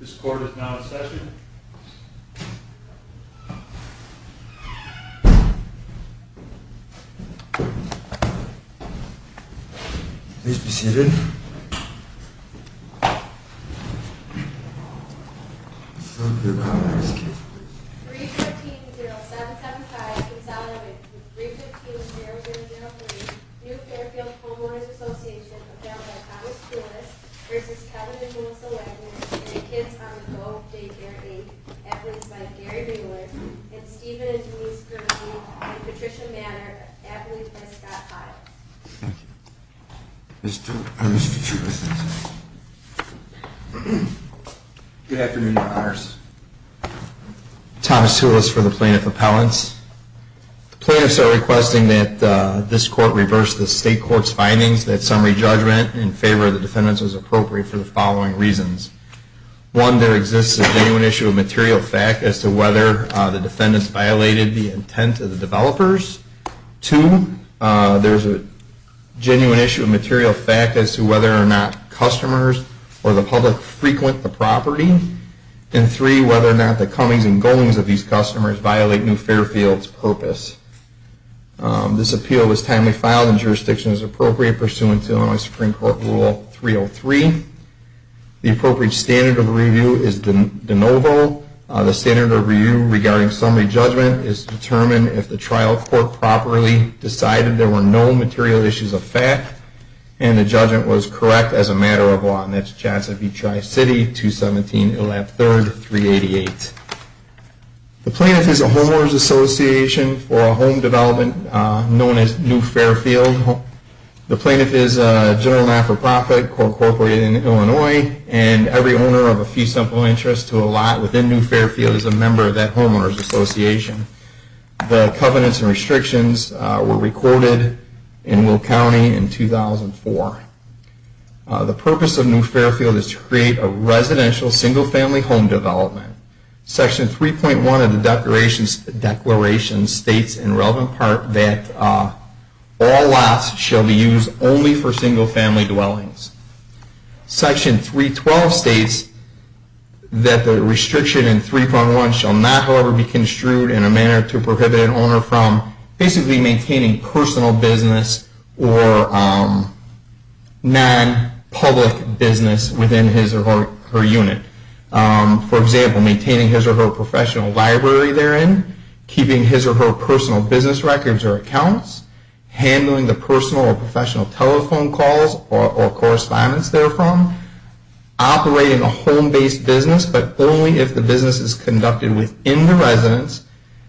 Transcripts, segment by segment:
This court is now in session. 315-0755, Consolidated, 315-0303, Neufairfield Homeowners Association, appelled by Thomas Coulis v. Kevin and Melissa Wagner, and kids under 12, day care aide, appellates by Gary Mueller, and Stephen and Denise Kirby, and Patricia Manor, appellates by Scott Hyde. Good afternoon, your honors. Thomas Coulis for the plaintiff appellants. The plaintiffs are requesting that this court reverse the state court's findings that summary judgment in favor of the defendants was appropriate for the following reasons. One, there exists a genuine issue of material fact as to whether the defendants violated the intent of the developers. Two, there is a genuine issue of material fact as to whether or not customers or the public frequent the property. And three, whether or not the comings and goings of these customers violate Neufairfield's purpose. This appeal was timely filed in jurisdictions appropriate pursuant to Illinois Supreme Court Rule 303. The appropriate standard of review is de novo. The standard of review regarding summary judgment is to determine if the trial court properly decided there were no material issues of fact and the judgment was correct as a matter of law. And that's Johnson v. Tri-City, 217 Illap 3rd, 388. The plaintiff is a homeowners association for a home development known as Neufairfield. The plaintiff is a general not-for-profit, co-incorporated in Illinois, and every owner of a few simple interests to a lot within Neufairfield is a member of that homeowners association. The covenants and restrictions were recorded in Will County in 2004. The purpose of Neufairfield is to create a residential single-family home development. Section 3.1 of the declaration states in relevant part that all lots shall be used only for single-family dwellings. Section 3.12 states that the restriction in 3.1 shall not, however, be construed in a manner to prohibit an owner from basically maintaining personal business or non-public business within his or her unit. For example, maintaining his or her professional library therein, keeping his or her personal business records or accounts, handling the personal or professional telephone calls or correspondence therefrom, operating a home-based business but only if the business is conducted within the residence,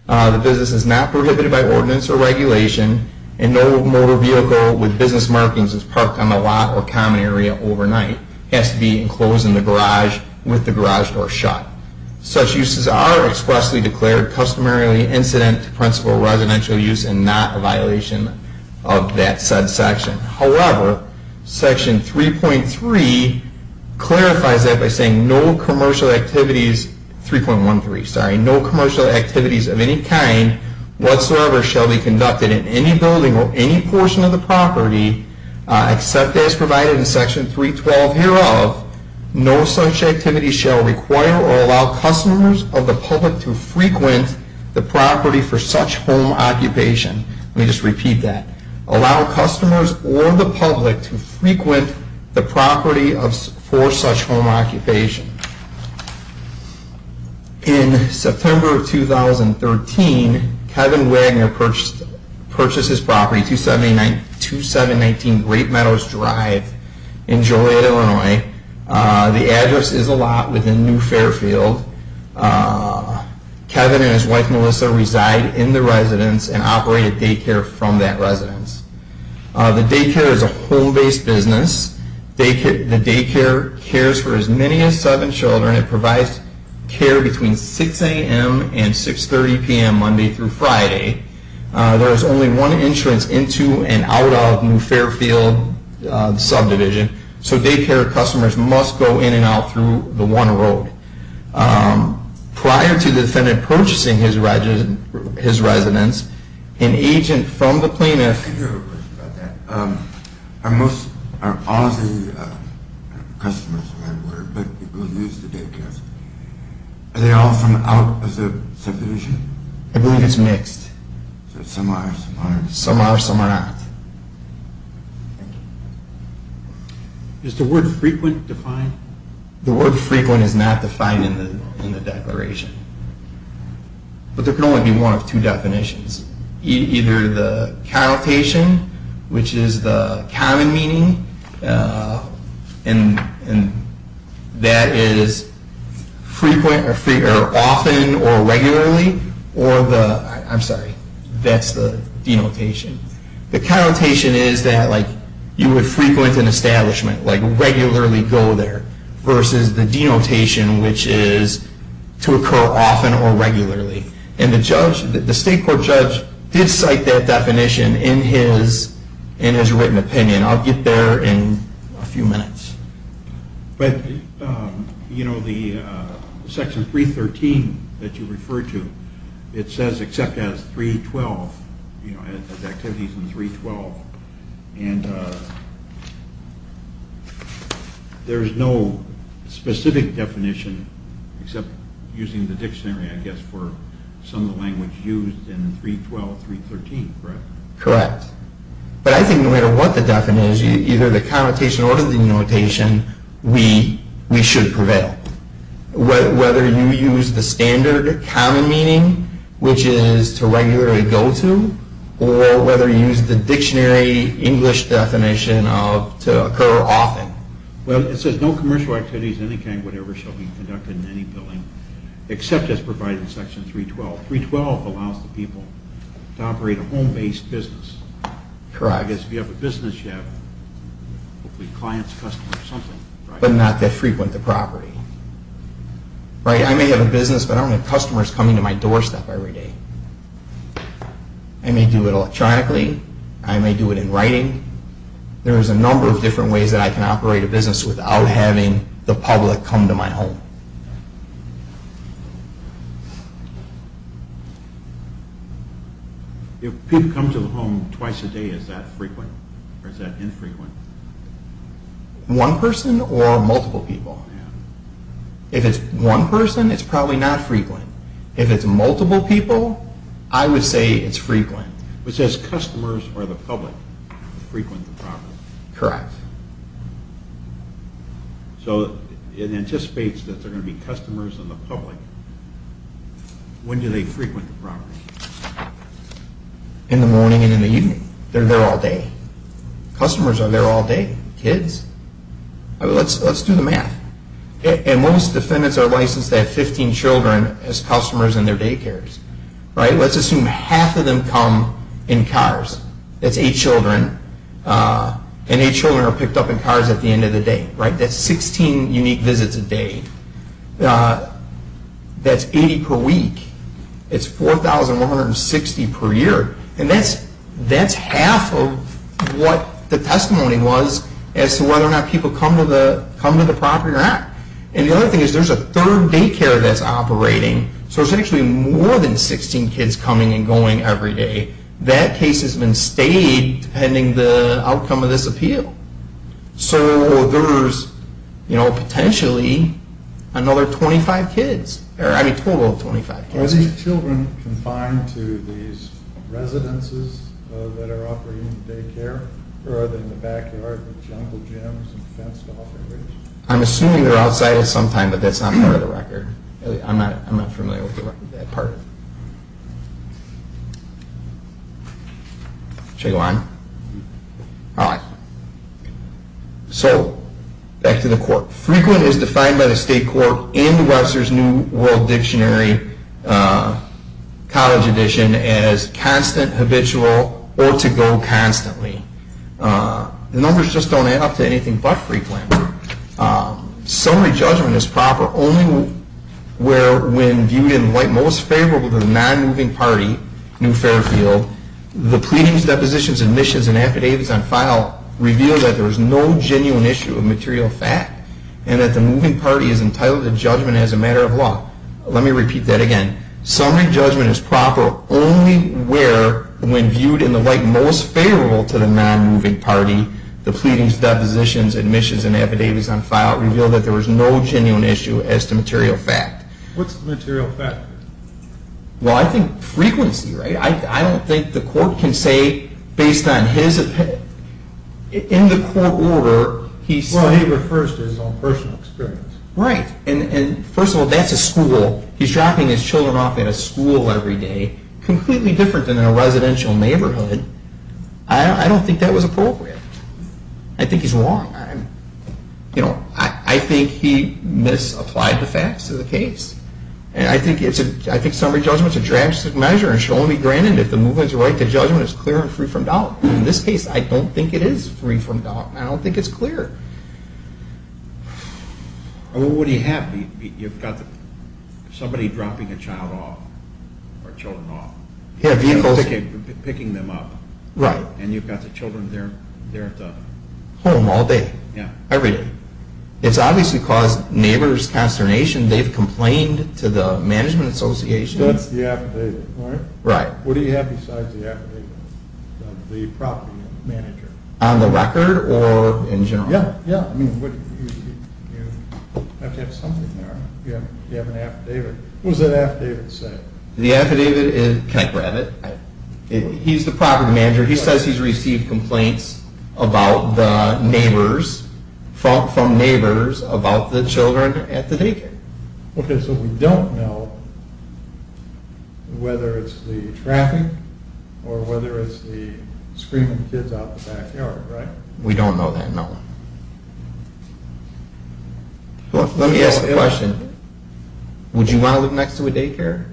the business is not prohibited by ordinance or regulation, and no motor vehicle with business markings is parked on the lot or common area overnight. It has to be enclosed in the garage with the garage door shut. Such uses are expressly declared customarily incident to principal residential use and not a violation of that said section. However, Section 3.13 clarifies that by saying no commercial activities of any kind whatsoever shall be conducted in any building or any portion of the property except as provided in Section 3.12 hereof, no such activity shall require or allow customers of the public to frequent the property for such home occupation. Let me just repeat that. Allow customers or the public to frequent the property for such home occupation. In September of 2013, Kevin Wagner purchased his property 2719 Great Meadows Drive in Joliet, Illinois. The address is a lot within New Fairfield. Kevin and his wife Melissa reside in the residence and operate a daycare from that residence. The daycare is a home-based business. The daycare cares for as many as seven children. It provides care between 6 a.m. and 6.30 p.m. Monday through Friday. There is only one entrance into and out of New Fairfield subdivision. So daycare customers must go in and out through the one road. Prior to the defendant purchasing his residence, an agent from the plaintiff I have a question about that. Are most, are all the customers, but people who use the daycare, are they all from out of the subdivision? I believe it's mixed. So some are, some aren't. Some are, some are not. Is the word frequent defined? The word frequent is not defined in the declaration. But there can only be one of two definitions. Either the connotation, which is the common meaning, and that is frequent or often or regularly, or the, I'm sorry, that's the denotation. The connotation is that like you would frequent an establishment, like regularly go there, versus the denotation, which is to occur often or regularly. And the judge, the state court judge, did cite that definition in his written opinion. I'll get there in a few minutes. But, you know, the section 313 that you refer to, it says except as 312, you know, as activities in 312, and there's no specific definition except using the dictionary, I guess, for some of the language used in 312, 313, correct? Correct. But I think no matter what the definition is, either the connotation or the denotation, we should prevail. Whether you use the standard common meaning, which is to regularly go to, or whether you use the dictionary English definition of to occur often. Well, it says no commercial activities of any kind whatever shall be conducted in any building except as provided in section 312. 312 allows the people to operate a home-based business. Correct. Because if you have a business, you have clients, customers, something. But not that frequent the property. Right? I may have a business, but I don't have customers coming to my doorstep every day. I may do it electronically. I may do it in writing. There's a number of different ways that I can operate a business without having the public come to my home. If people come to the home twice a day, is that frequent or is that infrequent? One person or multiple people. If it's one person, it's probably not frequent. If it's multiple people, I would say it's frequent. It says customers or the public frequent the property. Correct. So it anticipates that there are going to be customers and the public. When do they frequent the property? In the morning and in the evening. They're there all day. Customers are there all day. Kids. Let's do the math. Most defendants are licensed to have 15 children as customers in their daycares. Let's assume half of them come in cars. That's eight children. Eight children are picked up in cars at the end of the day. That's 16 unique visits a day. That's 80 per week. It's 4,160 per year. That's half of what the testimony was as to whether or not people come to the property or not. The other thing is there's a third daycare that's operating. So there's actually more than 16 kids coming and going every day. That case has been stayed depending on the outcome of this appeal. So there's, you know, potentially another 25 kids. I mean, a total of 25 kids. Are these children confined to these residences that are operating the daycare? Or are they in the backyard with jungle gyms and fenced off areas? I'm assuming they're outside at some time, but that's not part of the record. I'm not familiar with that part. Should I go on? All right. So back to the court. Frequent is defined by the state court in the Webster's New World Dictionary college edition as constant, habitual, or to go constantly. The numbers just don't add up to anything but frequent. Summary judgment is proper only where when viewed in the light most favorable to the nonmoving party, New Fairfield, the pleadings, depositions, admissions, and affidavits on file reveal that there is no genuine issue of material fact and that the moving party is entitled to judgment as a matter of law. Let me repeat that again. Summary judgment is proper only where when viewed in the light most favorable to the nonmoving party, the pleadings, depositions, admissions, and affidavits on file reveal that there is no genuine issue as to material fact. What's material fact? Well, I think frequency, right? I don't think the court can say based on his opinion. In the court order, he said... Well, he refers to his own personal experience. Right, and first of all, that's a school. He's dropping his children off at a school every day, completely different than in a residential neighborhood. I don't think that was appropriate. I think he's wrong. I think he misapplied the facts of the case. I think summary judgment is a drastic measure and should only be granted if the movement's right to judgment is clear and free from doubt. In this case, I don't think it is free from doubt. I don't think it's clear. Well, what do you have? You've got somebody dropping a child off, or children off. Picking them up. Right. And you've got the children there at the... Home all day. Yeah. Every day. It's obviously caused neighbor's consternation. They've complained to the management association. That's the affidavit, right? Right. What do you have besides the affidavit? The property manager. On the record or in general? Yeah, yeah. I mean, you have to have something there. You have an affidavit. What does that affidavit say? The affidavit is... Can I grab it? He's the property manager. He says he's received complaints about the neighbors, from neighbors, about the children at the daycare. Okay, so we don't know whether it's the traffic or whether it's the screaming kids out in the backyard, right? We don't know that, no. Let me ask a question. Would you want to live next to a daycare?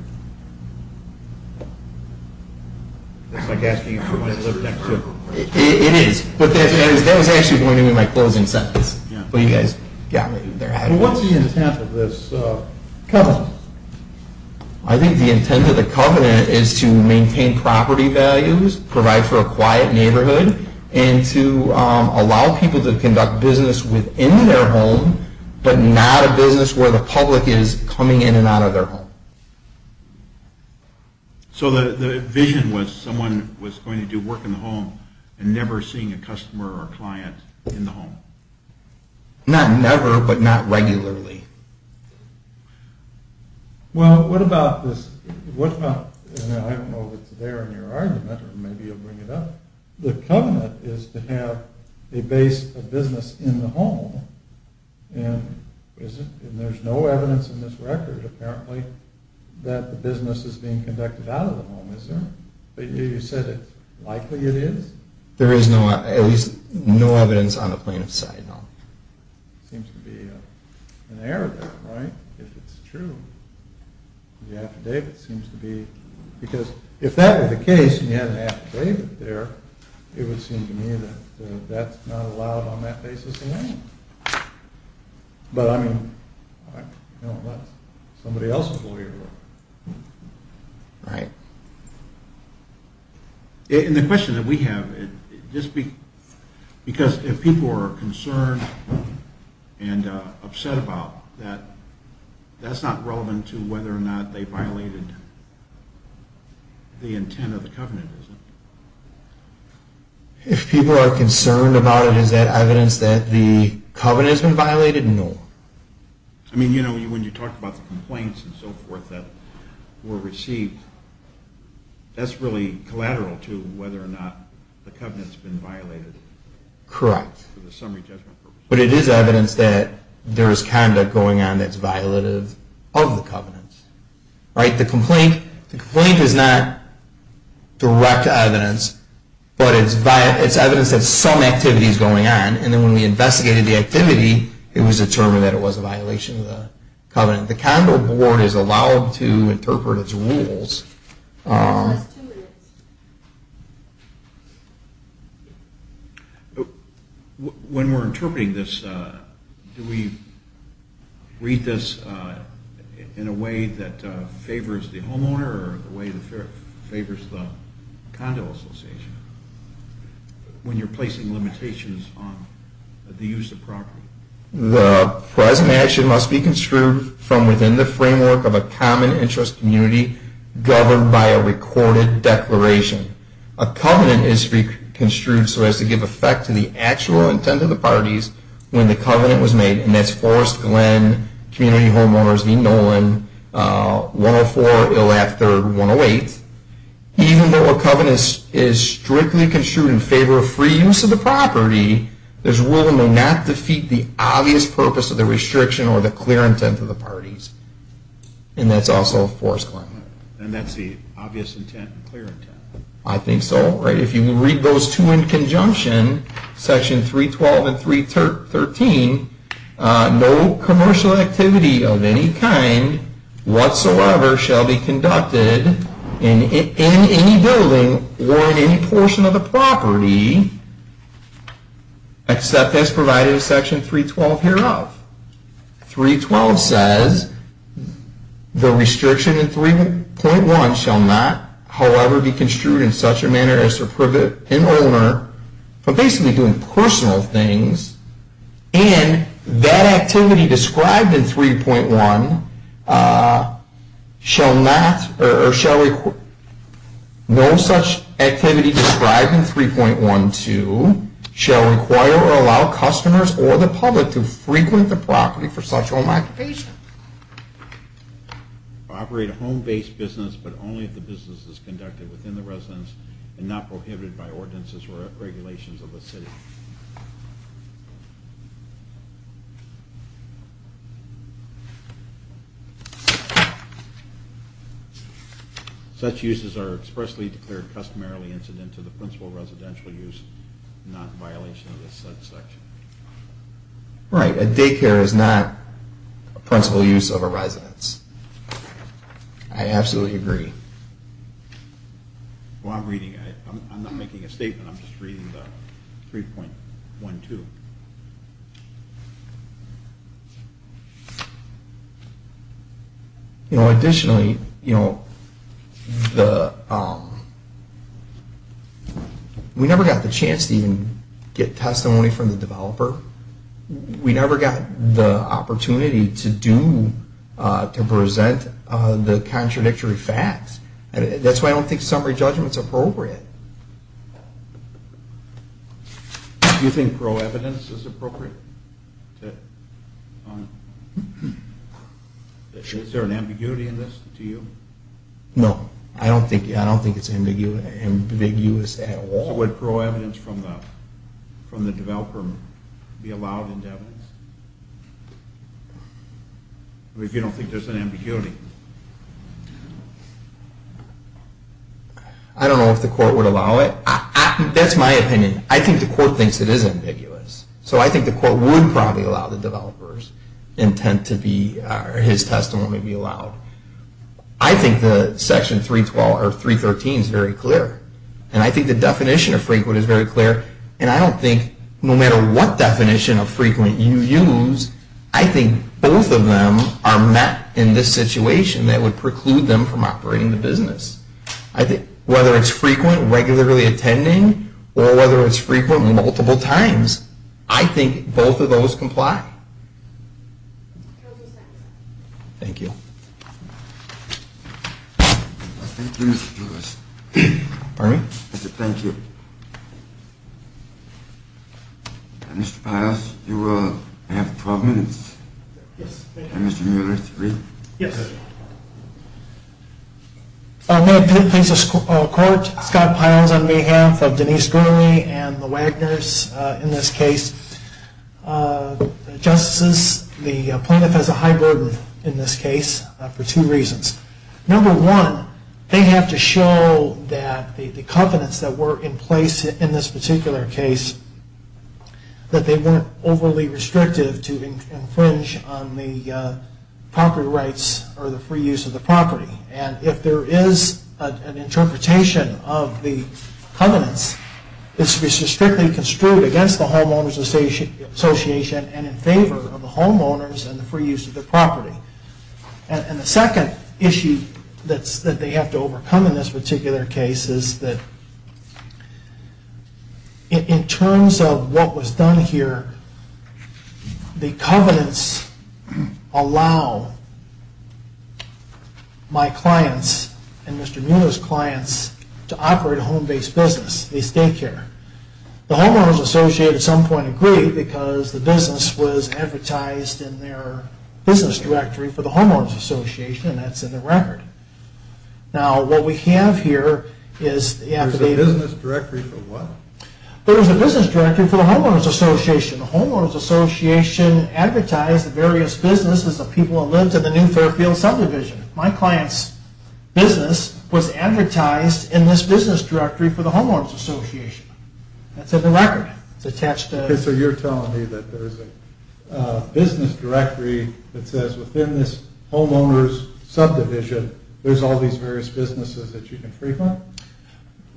It's like asking if you want to live next to... It is, but that was actually going to be my closing sentence. But you guys got me there. What's the intent of this covenant? I think the intent of the covenant is to maintain property values, provide for a quiet neighborhood, and to allow people to conduct business within their home but not a business where the public is coming in and out of their home. So the vision was someone was going to do work in the home and never seeing a customer or client in the home? Not never, but not regularly. Well, what about this... I don't know if it's there in your argument, or maybe you'll bring it up. The covenant is to have a base of business in the home and there's no evidence in this record, apparently, that the business is being conducted out of the home, is there? You said it's likely it is? There is no evidence on the plaintiff's side, no. Seems to be an error there, right? If it's true, the affidavit seems to be... Because if that were the case and you had an affidavit there, it would seem to me that that's not allowed on that basis in any way. But, I mean, somebody else's lawyer would. Right. And the question that we have, because if people are concerned and upset about that, that's not relevant to whether or not they violated the intent of the covenant, is it? If people are concerned about it, is that evidence that the covenant has been violated? No. I mean, you know, when you talk about the complaints and so forth that were received, that's really collateral to whether or not the covenant's been violated. Correct. But it is evidence that there is conduct going on that's violative of the covenant. Right? The complaint is not direct evidence, but it's evidence that some activity is going on, and then when we investigated the activity, it was determined that it was a violation of the covenant. The Condor Board is allowed to interpret its rules. When we're interpreting this, do we read this in a way that favors the homeowner or in a way that favors the condo association when you're placing limitations on the use of property? The present action must be construed from within the framework of a common interest community governed by a recorded declaration. A covenant is to be construed so as to give effect to the actual intent of the parties when the covenant was made, and that's Forrest Glenn, Community Homeowners v. Nolan, 104 Ill-At-Third 108. Even though a covenant is strictly construed in favor of free use of the property, there's a rule it may not defeat the obvious purpose of the restriction or the clear intent of the parties, and that's also Forrest Glenn. And that's the obvious intent and clear intent. I think so. If you read those two in conjunction, Section 312 and 313, no commercial activity of any kind whatsoever shall be conducted in any building or in any portion of the property except as provided in Section 312 hereof. 312 says the restriction in 3.1 shall not, however, be construed in such a manner as to prohibit an owner from basically doing personal things, and that activity described in 3.1 shall not or shall require, no such activity described in 3.12 shall require or allow customers or the public to frequent the property for such home occupation. Operate a home-based business, but only if the business is conducted within the residence and not prohibited by ordinances or regulations of the city. Such uses are expressly declared customarily incident to the principal residential use, not in violation of the said section. Right. A daycare is not a principal use of a residence. I absolutely agree. Well, I'm reading it. I'm not making a statement. I'm just reading the 3.12. You know, additionally, you know, we never got the chance to even get testimony from the developer. We never got the opportunity to do, to present the contradictory facts. That's why I don't think summary judgment's appropriate. Do you think pro-evidence is appropriate? Is there an ambiguity in this to you? No. I don't think it's ambiguous at all. So would pro-evidence from the developer be allowed into evidence? If you don't think there's an ambiguity. I don't know if the court would allow it. That's my opinion. I think the court thinks it is ambiguous. So I think the court would probably allow the developer's intent to be, or his testimony be allowed. I think the section 3.12 or 3.13 is very clear. And I think the definition of frequent is very clear. And I don't think, no matter what definition of frequent you use, I think both of them are met in this situation that would preclude them from operating the business. Whether it's frequent, regularly attending, or whether it's frequent multiple times, I think both of those comply. Thank you. Bernie? Thank you. Mr. Pyles, you will have 12 minutes. Yes. And Mr. Mueller, three? Yes. May it please the court, Scott Pyles on behalf of Denise Gurley and the Wagners in this case. Justices, the plaintiff has a high burden in this case for two reasons. Number one, they have to show that the covenants that were in place in this particular case, that they weren't overly restrictive to infringe on the property rights or the free use of the property. And if there is an interpretation of the covenants, this is strictly construed against the homeowners association and in favor of the homeowners and the free use of the property. And the second issue that they have to overcome in this particular case is that in terms of what was done here, the covenants allow my clients and Mr. Mueller's clients to operate a home-based business, a state care. The homeowners association at some point agreed because the business was advertised in their business directory for the homeowners association, and that's in the record. Now, what we have here is... There's a business directory for what? There is a business directory for the homeowners association. The homeowners association advertised the various businesses of people who lived in the new Fairfield subdivision. My client's business was advertised in this business directory That's in the record. It's attached to... So you're telling me that there's a business directory that says within this homeowners subdivision there's all these various businesses that you can free fund?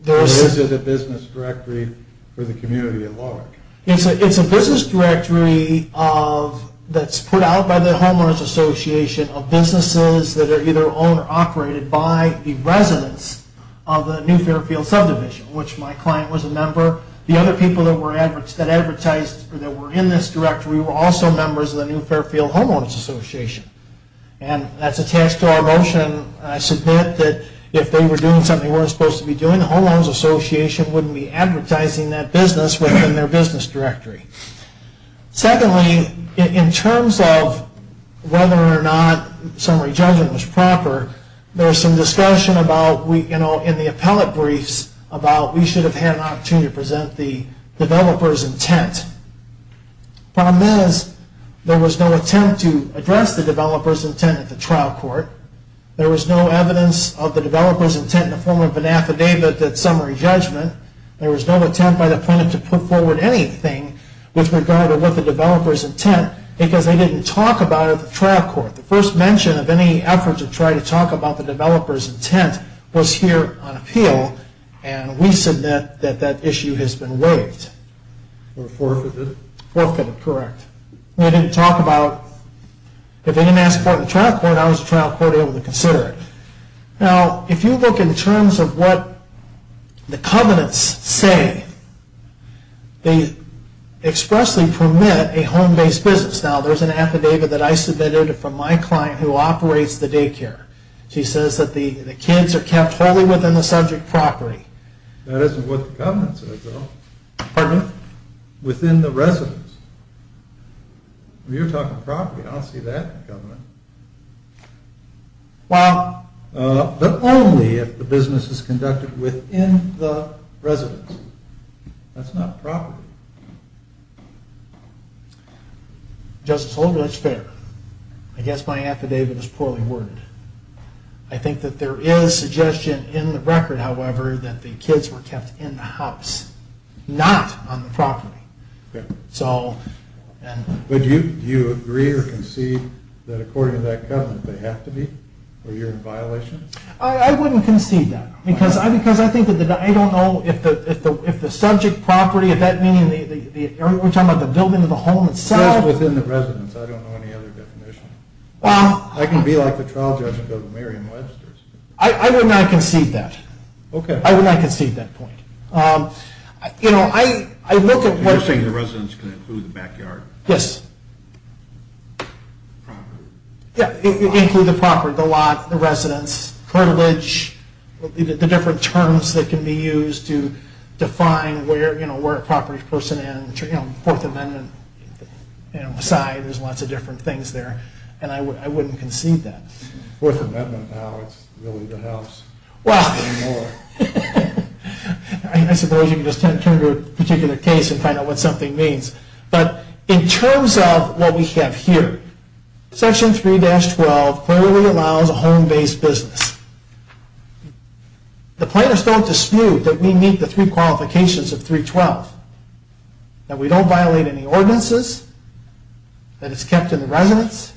Or is it a business directory for the community at large? It's a business directory of... that's put out by the homeowners association of businesses that are either owned or operated by the residents of the new Fairfield subdivision, which my client was a member. The other people that were in this directory were also members of the new Fairfield homeowners association. And that's attached to our motion. I submit that if they were doing something they weren't supposed to be doing, the homeowners association wouldn't be advertising that business within their business directory. Secondly, in terms of whether or not summary judgment was proper, there was some discussion in the appellate briefs about we should have had an opportunity to present the developer's intent. Problem is, there was no attempt to address the developer's intent at the trial court. There was no evidence of the developer's intent in the form of an affidavit that summary judgment. There was no attempt by the plaintiff to put forward anything with regard to what the developer's intent, because they didn't talk about it at the trial court. the developer's intent was here on appeal. And we submit that that issue has been waived. Or forfeited. Forfeited, correct. We didn't talk about, if they didn't ask for it at the trial court, how was the trial court able to consider it? Now, if you look in terms of what the covenants say, they expressly permit a home-based business. Now, there's an affidavit that I submitted from my client who operates the daycare. She says that the kids are kept wholly within the subject property. That isn't what the covenant says, though. Pardon me? Within the residence. You're talking property. I don't see that in the covenant. Well... But only if the business is conducted within the residence. That's not property. Justice Holdren, that's fair. I guess my affidavit is poorly worded. I think that there is suggestion in the record, however, that the kids were kept in the house, not on the property. But do you agree or concede that, according to that covenant, they have to be? Or you're in violation? I wouldn't concede that. Because I don't know if the subject property, if that meaning the area we're talking about, the building of the home itself. Just within the residence. I don't know any other definition. I can be like the trial judge and go to Merriam-Webster's. I would not concede that. Okay. I would not concede that point. You know, I look at what... You're saying the residence can include the backyard? Yes. Property. Yeah, it can include the property, the lot, the residence, curtilage, the different terms that can be used to define where, where a property person in, you know, Fourth Amendment, you know, aside, there's lots of different things there. And I wouldn't concede that. Fourth Amendment now, it's really the house. Well, I suppose you can just turn to a particular case and find out what something means. But in terms of what we have here, Section 3-12 clearly allows a home-based business. The plaintiffs don't dispute that we meet the three qualifications of 3-12, that we don't violate any ordinances, that it's kept in the residence,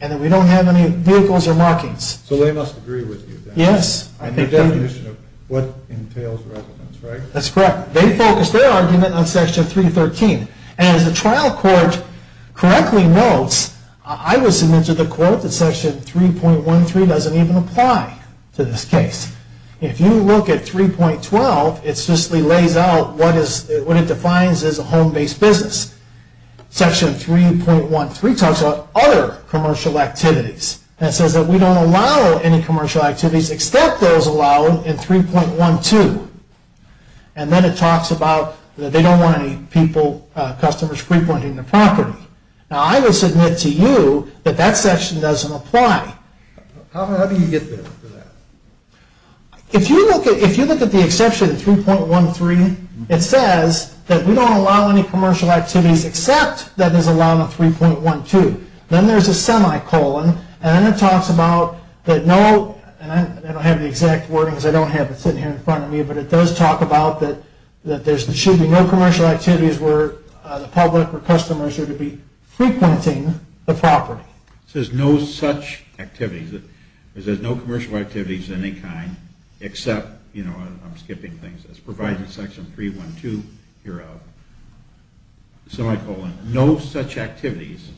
and that we don't have any vehicles or markings. So they must agree with you. Yes. On the definition of what entails residence, right? That's correct. They focus their argument on Section 3-13. And as the trial court correctly notes, I would submit to the court that Section 3.13 doesn't even apply to this case. If you look at 3.12, it's just lays out what is, what it defines as a home-based business. Section 3.13 talks about other commercial activities. And it says that we don't allow any commercial activities except those allowed in 3.12. And then it talks about that they don't want any people, customers pre-pointing the property. Now I would submit to you that that section doesn't apply. How do you get there for that? If you look at the exception 3.13, it says that we don't allow any commercial activities except that is allowed in 3.12. Then there's a semicolon, and then it talks about that no, and I don't have the exact wordings, I don't have it sitting here in front of me, but it does talk about that there should be no commercial activities where the public or customers are to be pre-pointing the property. It says no such activities, it says no commercial activities of any kind except, you know, I'm skipping things, as provided in Section 3.12, you're a semicolon, no such activities,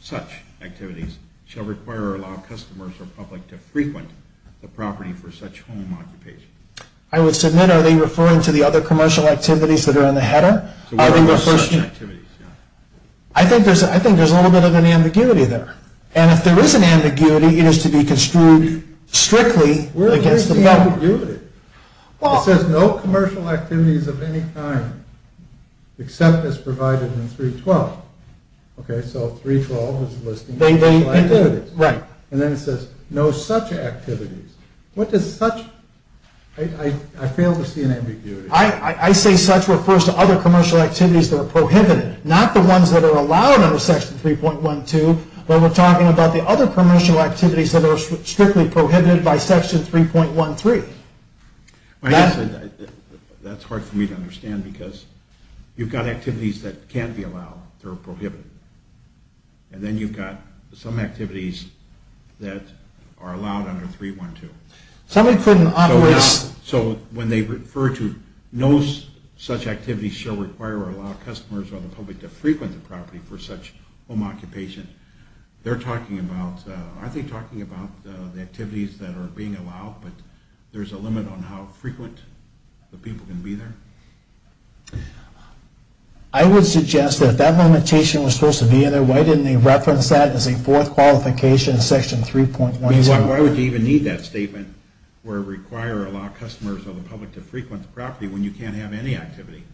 such activities, shall require or allow customers or public to pre-point the property for such home occupation. I would submit, are they referring to the other commercial activities that are in the header? I think there's a little bit of an ambiguity there. And if there is an ambiguity, it is to be construed strictly against the problem. Where is the ambiguity? It says no commercial activities of any kind except as provided in 3.12. Okay, so 3.12 is listing commercial activities. And then it says no such activities. What does such, I fail to see an ambiguity. I say such refers to other commercial activities that are prohibited, not the ones that are allowed under Section 3.12, but we're talking about the other commercial activities that are strictly prohibited by Section 3.13. That's hard for me to understand because you've got activities that can be allowed that are prohibited. And then you've got some activities that are allowed under 3.12. So when they refer to no such activities shall require or allow customers or the public to frequent the property for such home occupation, they're talking about, aren't they talking about the activities that are being allowed, but there's a limit on how frequent the people can be there? I would suggest that if that limitation was supposed to be in there, why didn't they reference that as a fourth qualification in Section 3.12? Why would you even need that statement where require or allow customers or the public to frequent the property when you can't have any activity?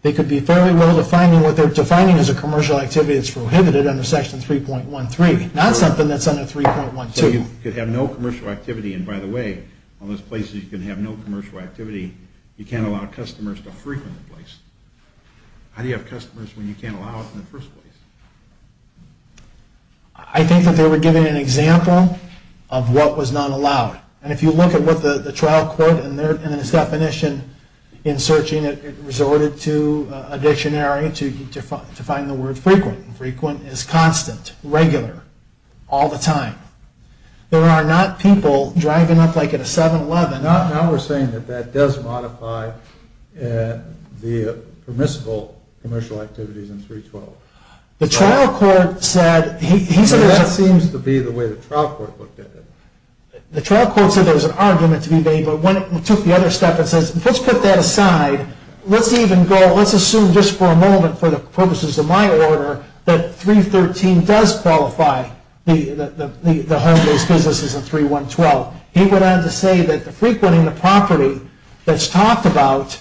They could be fairly well defining what they're defining as a commercial activity that's prohibited under Section 3.13, not something that's under 3.12. So you could have no commercial activity, and by the way, all those places you can have no commercial activity, you can't allow customers to frequent the place. How do you have customers when you can't allow it in the first place? I think that they were giving an example of what was not allowed. And if you look at what the trial court and its definition in searching it, it resorted to a dictionary to define the word frequent. Frequent is constant, regular, all the time. There are not people driving up like at a 7-Eleven... Now we're saying that that does modify the permissible commercial activities in 3.12. The trial court said... That seems to be the way the trial court looked at it. The trial court said there was an argument to be made, but when it took the other step and says, let's put that aside. Let's assume just for a moment, for the purposes of my order, that 3.13 does qualify the home-based businesses in 3.12. He went on to say that the frequenting the property that's talked about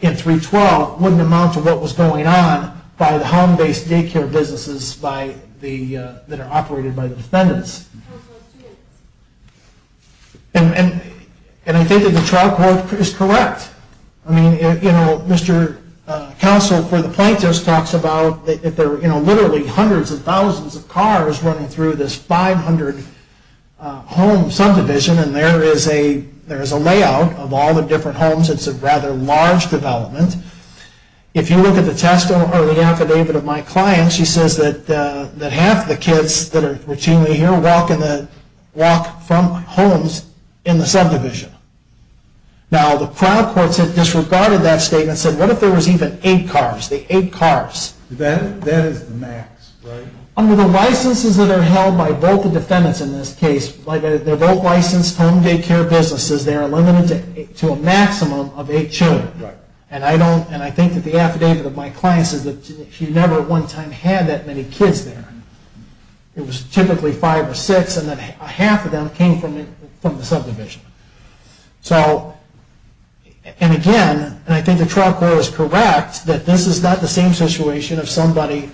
in 3.12 wouldn't amount to what was going on by the home-based daycare businesses that are operated by the defendants. And I think that the trial court is correct. I mean, you know, Mr. Counsel for the Plaintiffs talks about that there are literally hundreds of thousands of cars running through this 500-home subdivision, and there is a layout of all the different homes. It's a rather large development. If you look at the test or the affidavit of my client, she says that half the kids that are routinely here walk from homes in the subdivision. Now, the trial courts have disregarded that statement and said, what if there was even eight cars? The eight cars. That is the max, right? Under the licenses that are held by both the defendants in this case, they're both licensed home-daycare businesses. They are limited to a maximum of eight children. Right. And I think that the affidavit of my client says that she never at one time had that many kids there. It was typically five or six, and then a half of them came from the subdivision. So, and again, and I think the trial court is correct that this is not the same situation of somebody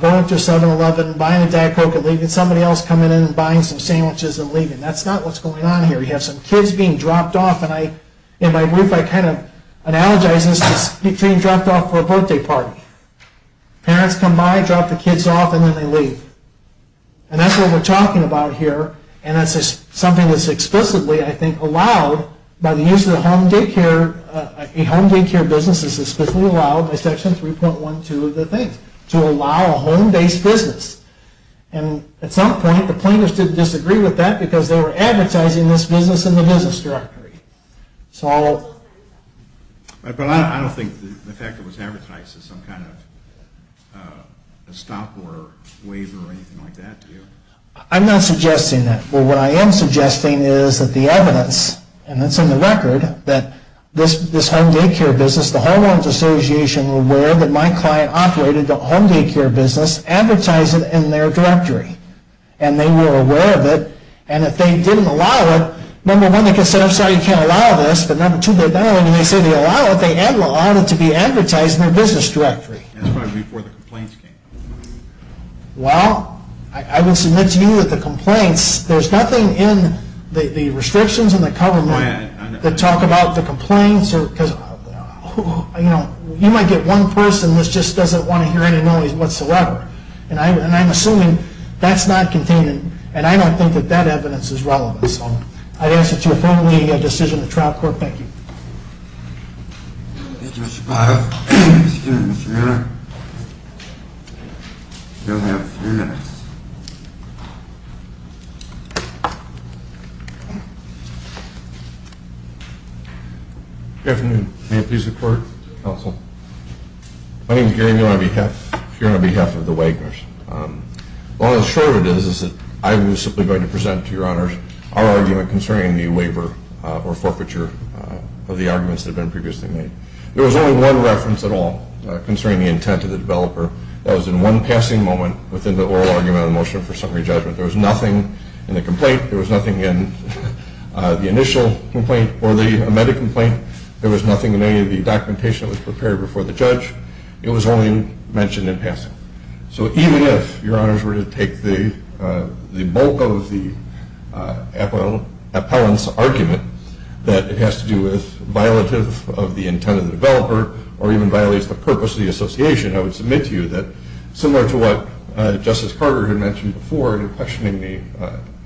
going through 7-Eleven and buying a Diet Coke and leaving, somebody else coming in and buying some sandwiches and leaving. That's not what's going on here. You have some kids being dropped off, and in my brief, I kind of analogize this being dropped off for a birthday party. Parents come by, drop the kids off, and then they leave. And that's what we're talking about here, and that's something that's explicitly, I think, allowed by the use of the home-daycare, a home-daycare business is explicitly allowed by Section 3.12 of the things, to allow a home-based business. And at some point, the plaintiffs didn't disagree with that because they were advertising this business in the business directory. So... But I don't think the fact that it was advertised as some kind of a stop order waiver or anything like that, do you? I'm not suggesting that. What I am suggesting is that the evidence, and it's in the record, that this home-daycare business, the Home Owners Association, were aware that my client operated a home-daycare business, advertised it in their directory. And they were aware of it, and if they didn't allow it, number one, they could say, I'm sorry, you can't allow this, but number two, they may say they allow it, they have allowed it to be advertised in their business directory. That's probably before the complaints came. Well, I will submit to you that the complaints, there's nothing in the restrictions in the government that talk about the complaints, because you might get one person that just doesn't want to hear any noise whatsoever. And I'm assuming that's not contained, and I don't think that that evidence is relevant. So, I ask that you approve the decision of the trial court. Thank you. Thank you, Mr. Biles. Excuse me, Mr. Miller. You only have three minutes. Good afternoon. May it please the Court, Counsel. My name is Gary Miller on behalf, here on behalf of the Wagoners. Long and short of this is that I was simply going to present to Your Honors our argument concerning the waiver or forfeiture of the arguments that have been previously made. There was only one reference at all concerning the intent of the developer that was in one passing moment within the oral argument of the motion for summary judgment. There was nothing in the complaint, there was nothing in the initial complaint or the amended complaint, there was nothing in any of the documentation that was prepared before the judge. It was only mentioned in passing. So, even if Your Honors were to take the bulk of the appellant's argument that it has to do with violative of the intent of the developer or even violates the purpose of the association, I would submit to you that, similar to what Justice Carter had mentioned before in questioning the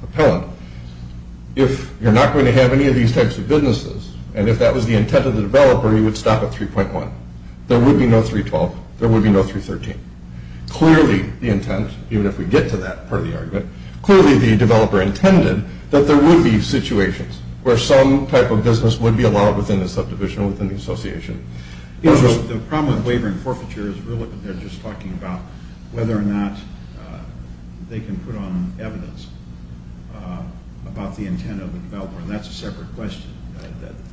appellant, if you're not going to have any of these types of businesses and if that was the intent of the developer, you would stop at 3.1. There would be no 3.12. There would be no 3.13. Clearly the intent, even if we get to that part of the argument, clearly the developer intended that there would be situations where some type of business would be allowed within the subdivision or within the association. The problem with waiver and forfeiture is really that they're just talking about whether or not they can put on evidence about the intent of the developer, and that's a separate question.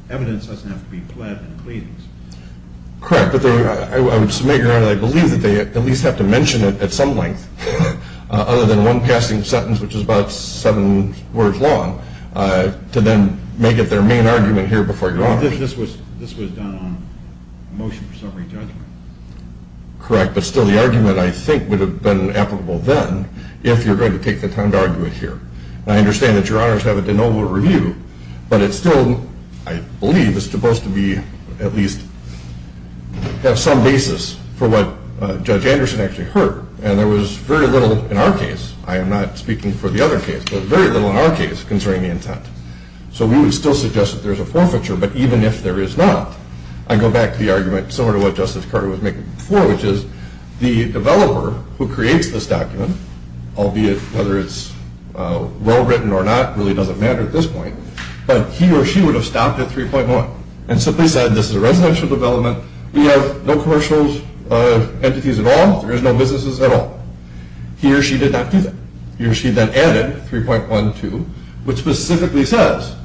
Evidence doesn't have to be pled and pleadings. Correct, but I would submit, Your Honor, that I believe that they at least have to mention it at some length other than one passing sentence, which is about seven words long, to then make it their main argument here before Your Honor. This was done on a motion for separate judgment. Correct, but still the argument, I think, would have been applicable then if you're going to take the time to argue it here. I understand that Your Honors have a de novo review, but it still, I believe, is supposed to be at least have some basis for what Judge Anderson actually heard, and there was very little in our case. I am not speaking for the other case, but very little in our case concerning the intent. So we would still suggest that there's a forfeiture, but even if there is not, I go back to the argument similar to what Justice Carter was making before, which is the developer who creates this document, albeit whether it's well-written or not, really doesn't matter at this point, but he or she would have stopped at 3.1 and simply said this is a residential development. We have no commercial entities at all. There is no businesses at all. He or she did not do that. He or she then added 3.12, which specifically says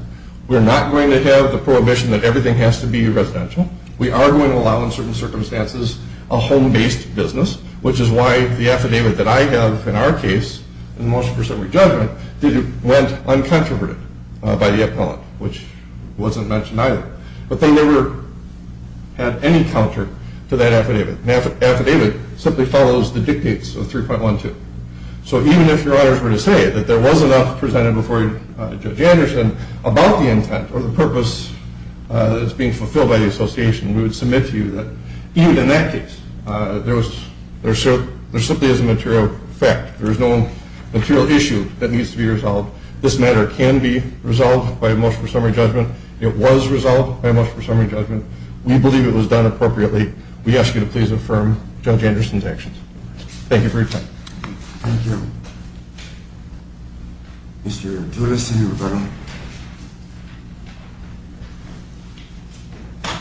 we're not going to have the prohibition that everything has to be residential. We are going to allow in certain circumstances a home-based business, which is why the affidavit that I have in our case, in the motion for separate judgment, went uncontroverted by the appellant, which wasn't mentioned either. But they never had any counter to that affidavit. An affidavit simply follows the dictates of 3.12. So even if your honors were to say that there was enough presented before Judge Anderson about the intent or the purpose that is being fulfilled by the association, we would submit to you that even in that case, There is no material issue that needs to be resolved. This matter can be resolved by a motion for summary judgment. It was resolved by a motion for summary judgment. We believe it was done appropriately. We ask you to please affirm Judge Anderson's actions. Thank you for your time. Thank you. Mr. Toulouse and Mr. Roberto. I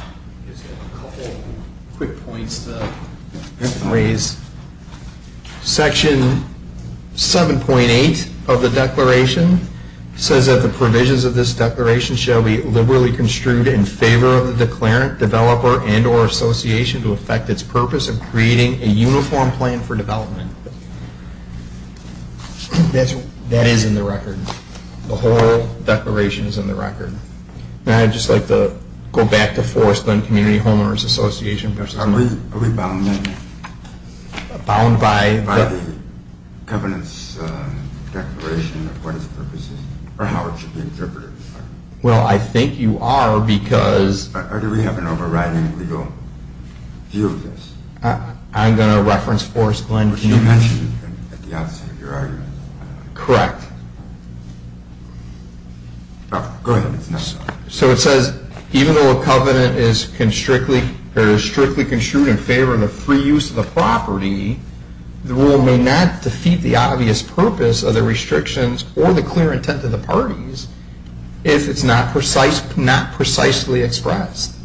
just have a couple quick points to raise. Section 7.8 of the declaration says that the provisions of this declaration shall be liberally construed in favor of the declarant, developer, and or association to affect its purpose of creating a uniform plan for development. That is in the record. The whole declaration is in the record. I'd just like to go back to Forestland Community Homeowners Association. Are we bound by the covenant's declaration of what its purpose is or how it should be interpreted? Well, I think you are because... Do we have an overriding legal view of this? I'm going to reference Forestland Community... Which you mentioned at the outset of your argument. Correct. Go ahead. So it says, even though a covenant is strictly construed in favor of the free use of the property, the rule may not defeat the obvious purpose of the restrictions or the clear intent of the parties if it's not precisely expressed.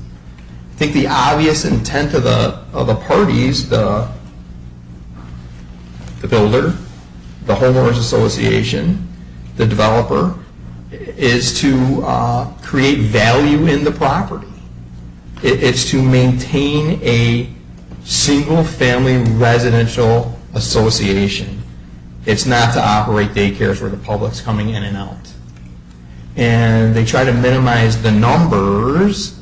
I think the obvious intent of the parties, the builder, the homeowners association, the developer, is to create value in the property. It's to maintain a single family residential association. It's not to operate daycares where the public's coming in and out. And they try to minimize the numbers,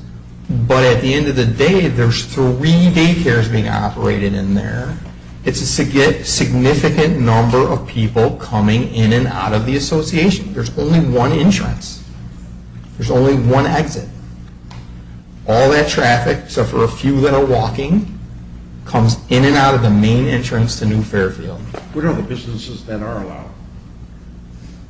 but at the end of the day, there's three daycares being operated in there. It's a significant number of people coming in and out of the association. There's only one entrance. There's only one exit. All that traffic, except for a few that are walking, comes in and out of the main entrance to New Fairfield. What are the businesses that are allowed?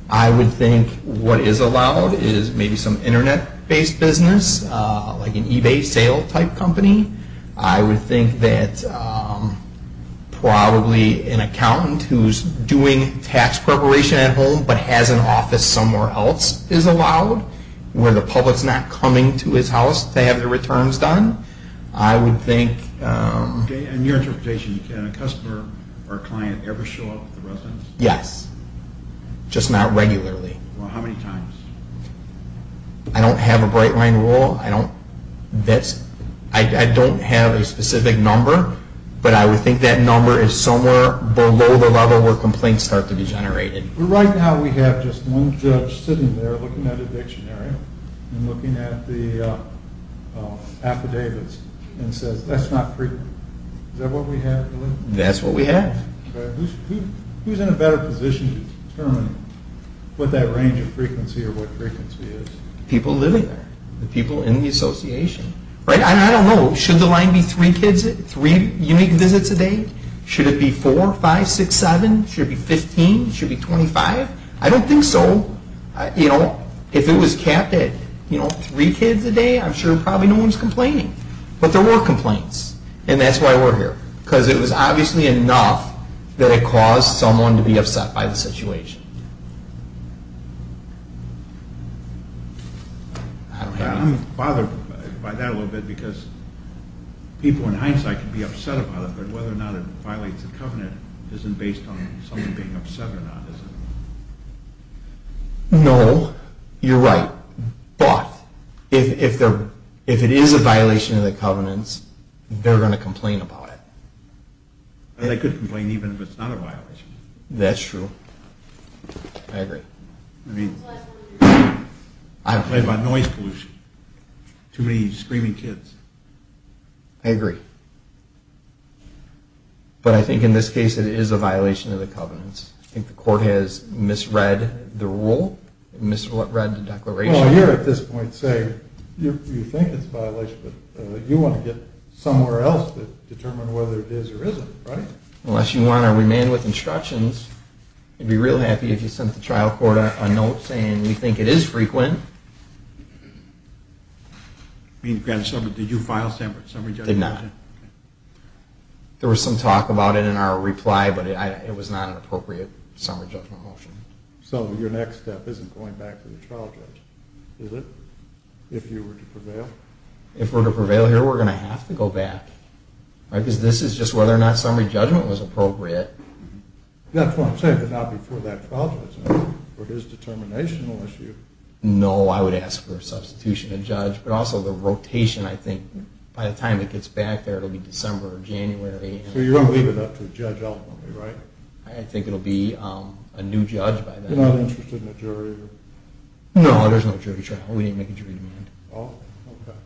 I would think what is allowed is maybe some internet-based business, like an eBay sale-type company. I would think that probably an accountant who's doing tax preparation at home but has an office somewhere else is allowed where the public's not coming to his house to have their returns done. I would think... Okay, and your interpretation, can a customer or a client ever show up at the residence? Yes, just not regularly. Well, how many times? I don't have a bright line rule. I don't have a specific number, but I would think that number is somewhere below the level where complaints start to be generated. Right now, we have just one judge sitting there looking at a dictionary and looking at the affidavits and says, that's not frequent. Is that what we have? That's what we have. Who's in a better position to determine what that range of frequency or what frequency is? People living there. The people in the association. I don't know. Should the line be 3 unique visits a day? Should it be 4, 5, 6, 7? Should it be 15? Should it be 25? I don't think so. If it was capped at 3 kids a day, I'm sure probably no one's complaining. But there were complaints, and that's why we're here. Because it was obviously enough that it caused someone to be upset by the situation. I'm bothered by that a little bit because people in hindsight can be upset about it, but whether or not it violates the covenant isn't based on someone being upset or not, is it? No. You're right. But if it is a violation of the covenants, they're going to complain about it. They could complain even if it's not a violation. That's true. I agree. I mean, it's made by noise pollution. Too many screaming kids. I agree. But I think in this case it is a violation of the covenants. I think the court has misread the rule, misread the declaration. Well, I hear at this point say, you think it's a violation, but you want to get somewhere else to determine whether it is or isn't, right? Unless you want to remain with instructions, I'd be real happy if you sent the trial court a note saying you think it is frequent. I mean, did you file a summary judgment motion? Did not. There was some talk about it in our reply, but it was not an appropriate summary judgment motion. So your next step isn't going back to the trial judge, is it, if you were to prevail? If we're to prevail here, we're going to have to go back. Right, because this is just whether or not summary judgment was appropriate. That's what I'm saying, but not before that trial judge, for his determinational issue. No, I would ask for a substitution of judge, but also the rotation, I think. By the time it gets back there, it will be December or January. So you're going to leave it up to the judge ultimately, right? I think it will be a new judge by then. You're not interested in a jury? No, there's no jury trial. We didn't make a jury demand. Oh, okay.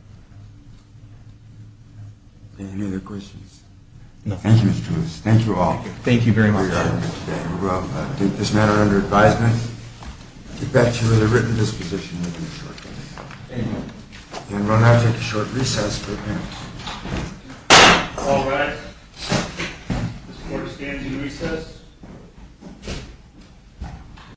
Any other questions? No. Thank you, Mr. Lewis. Thank you all. Thank you very much. We will leave this matter under advisement, get back to you with a written disposition within a short time. Thank you. And we'll now take a short recess for appearance. All rise. This court stands in recess.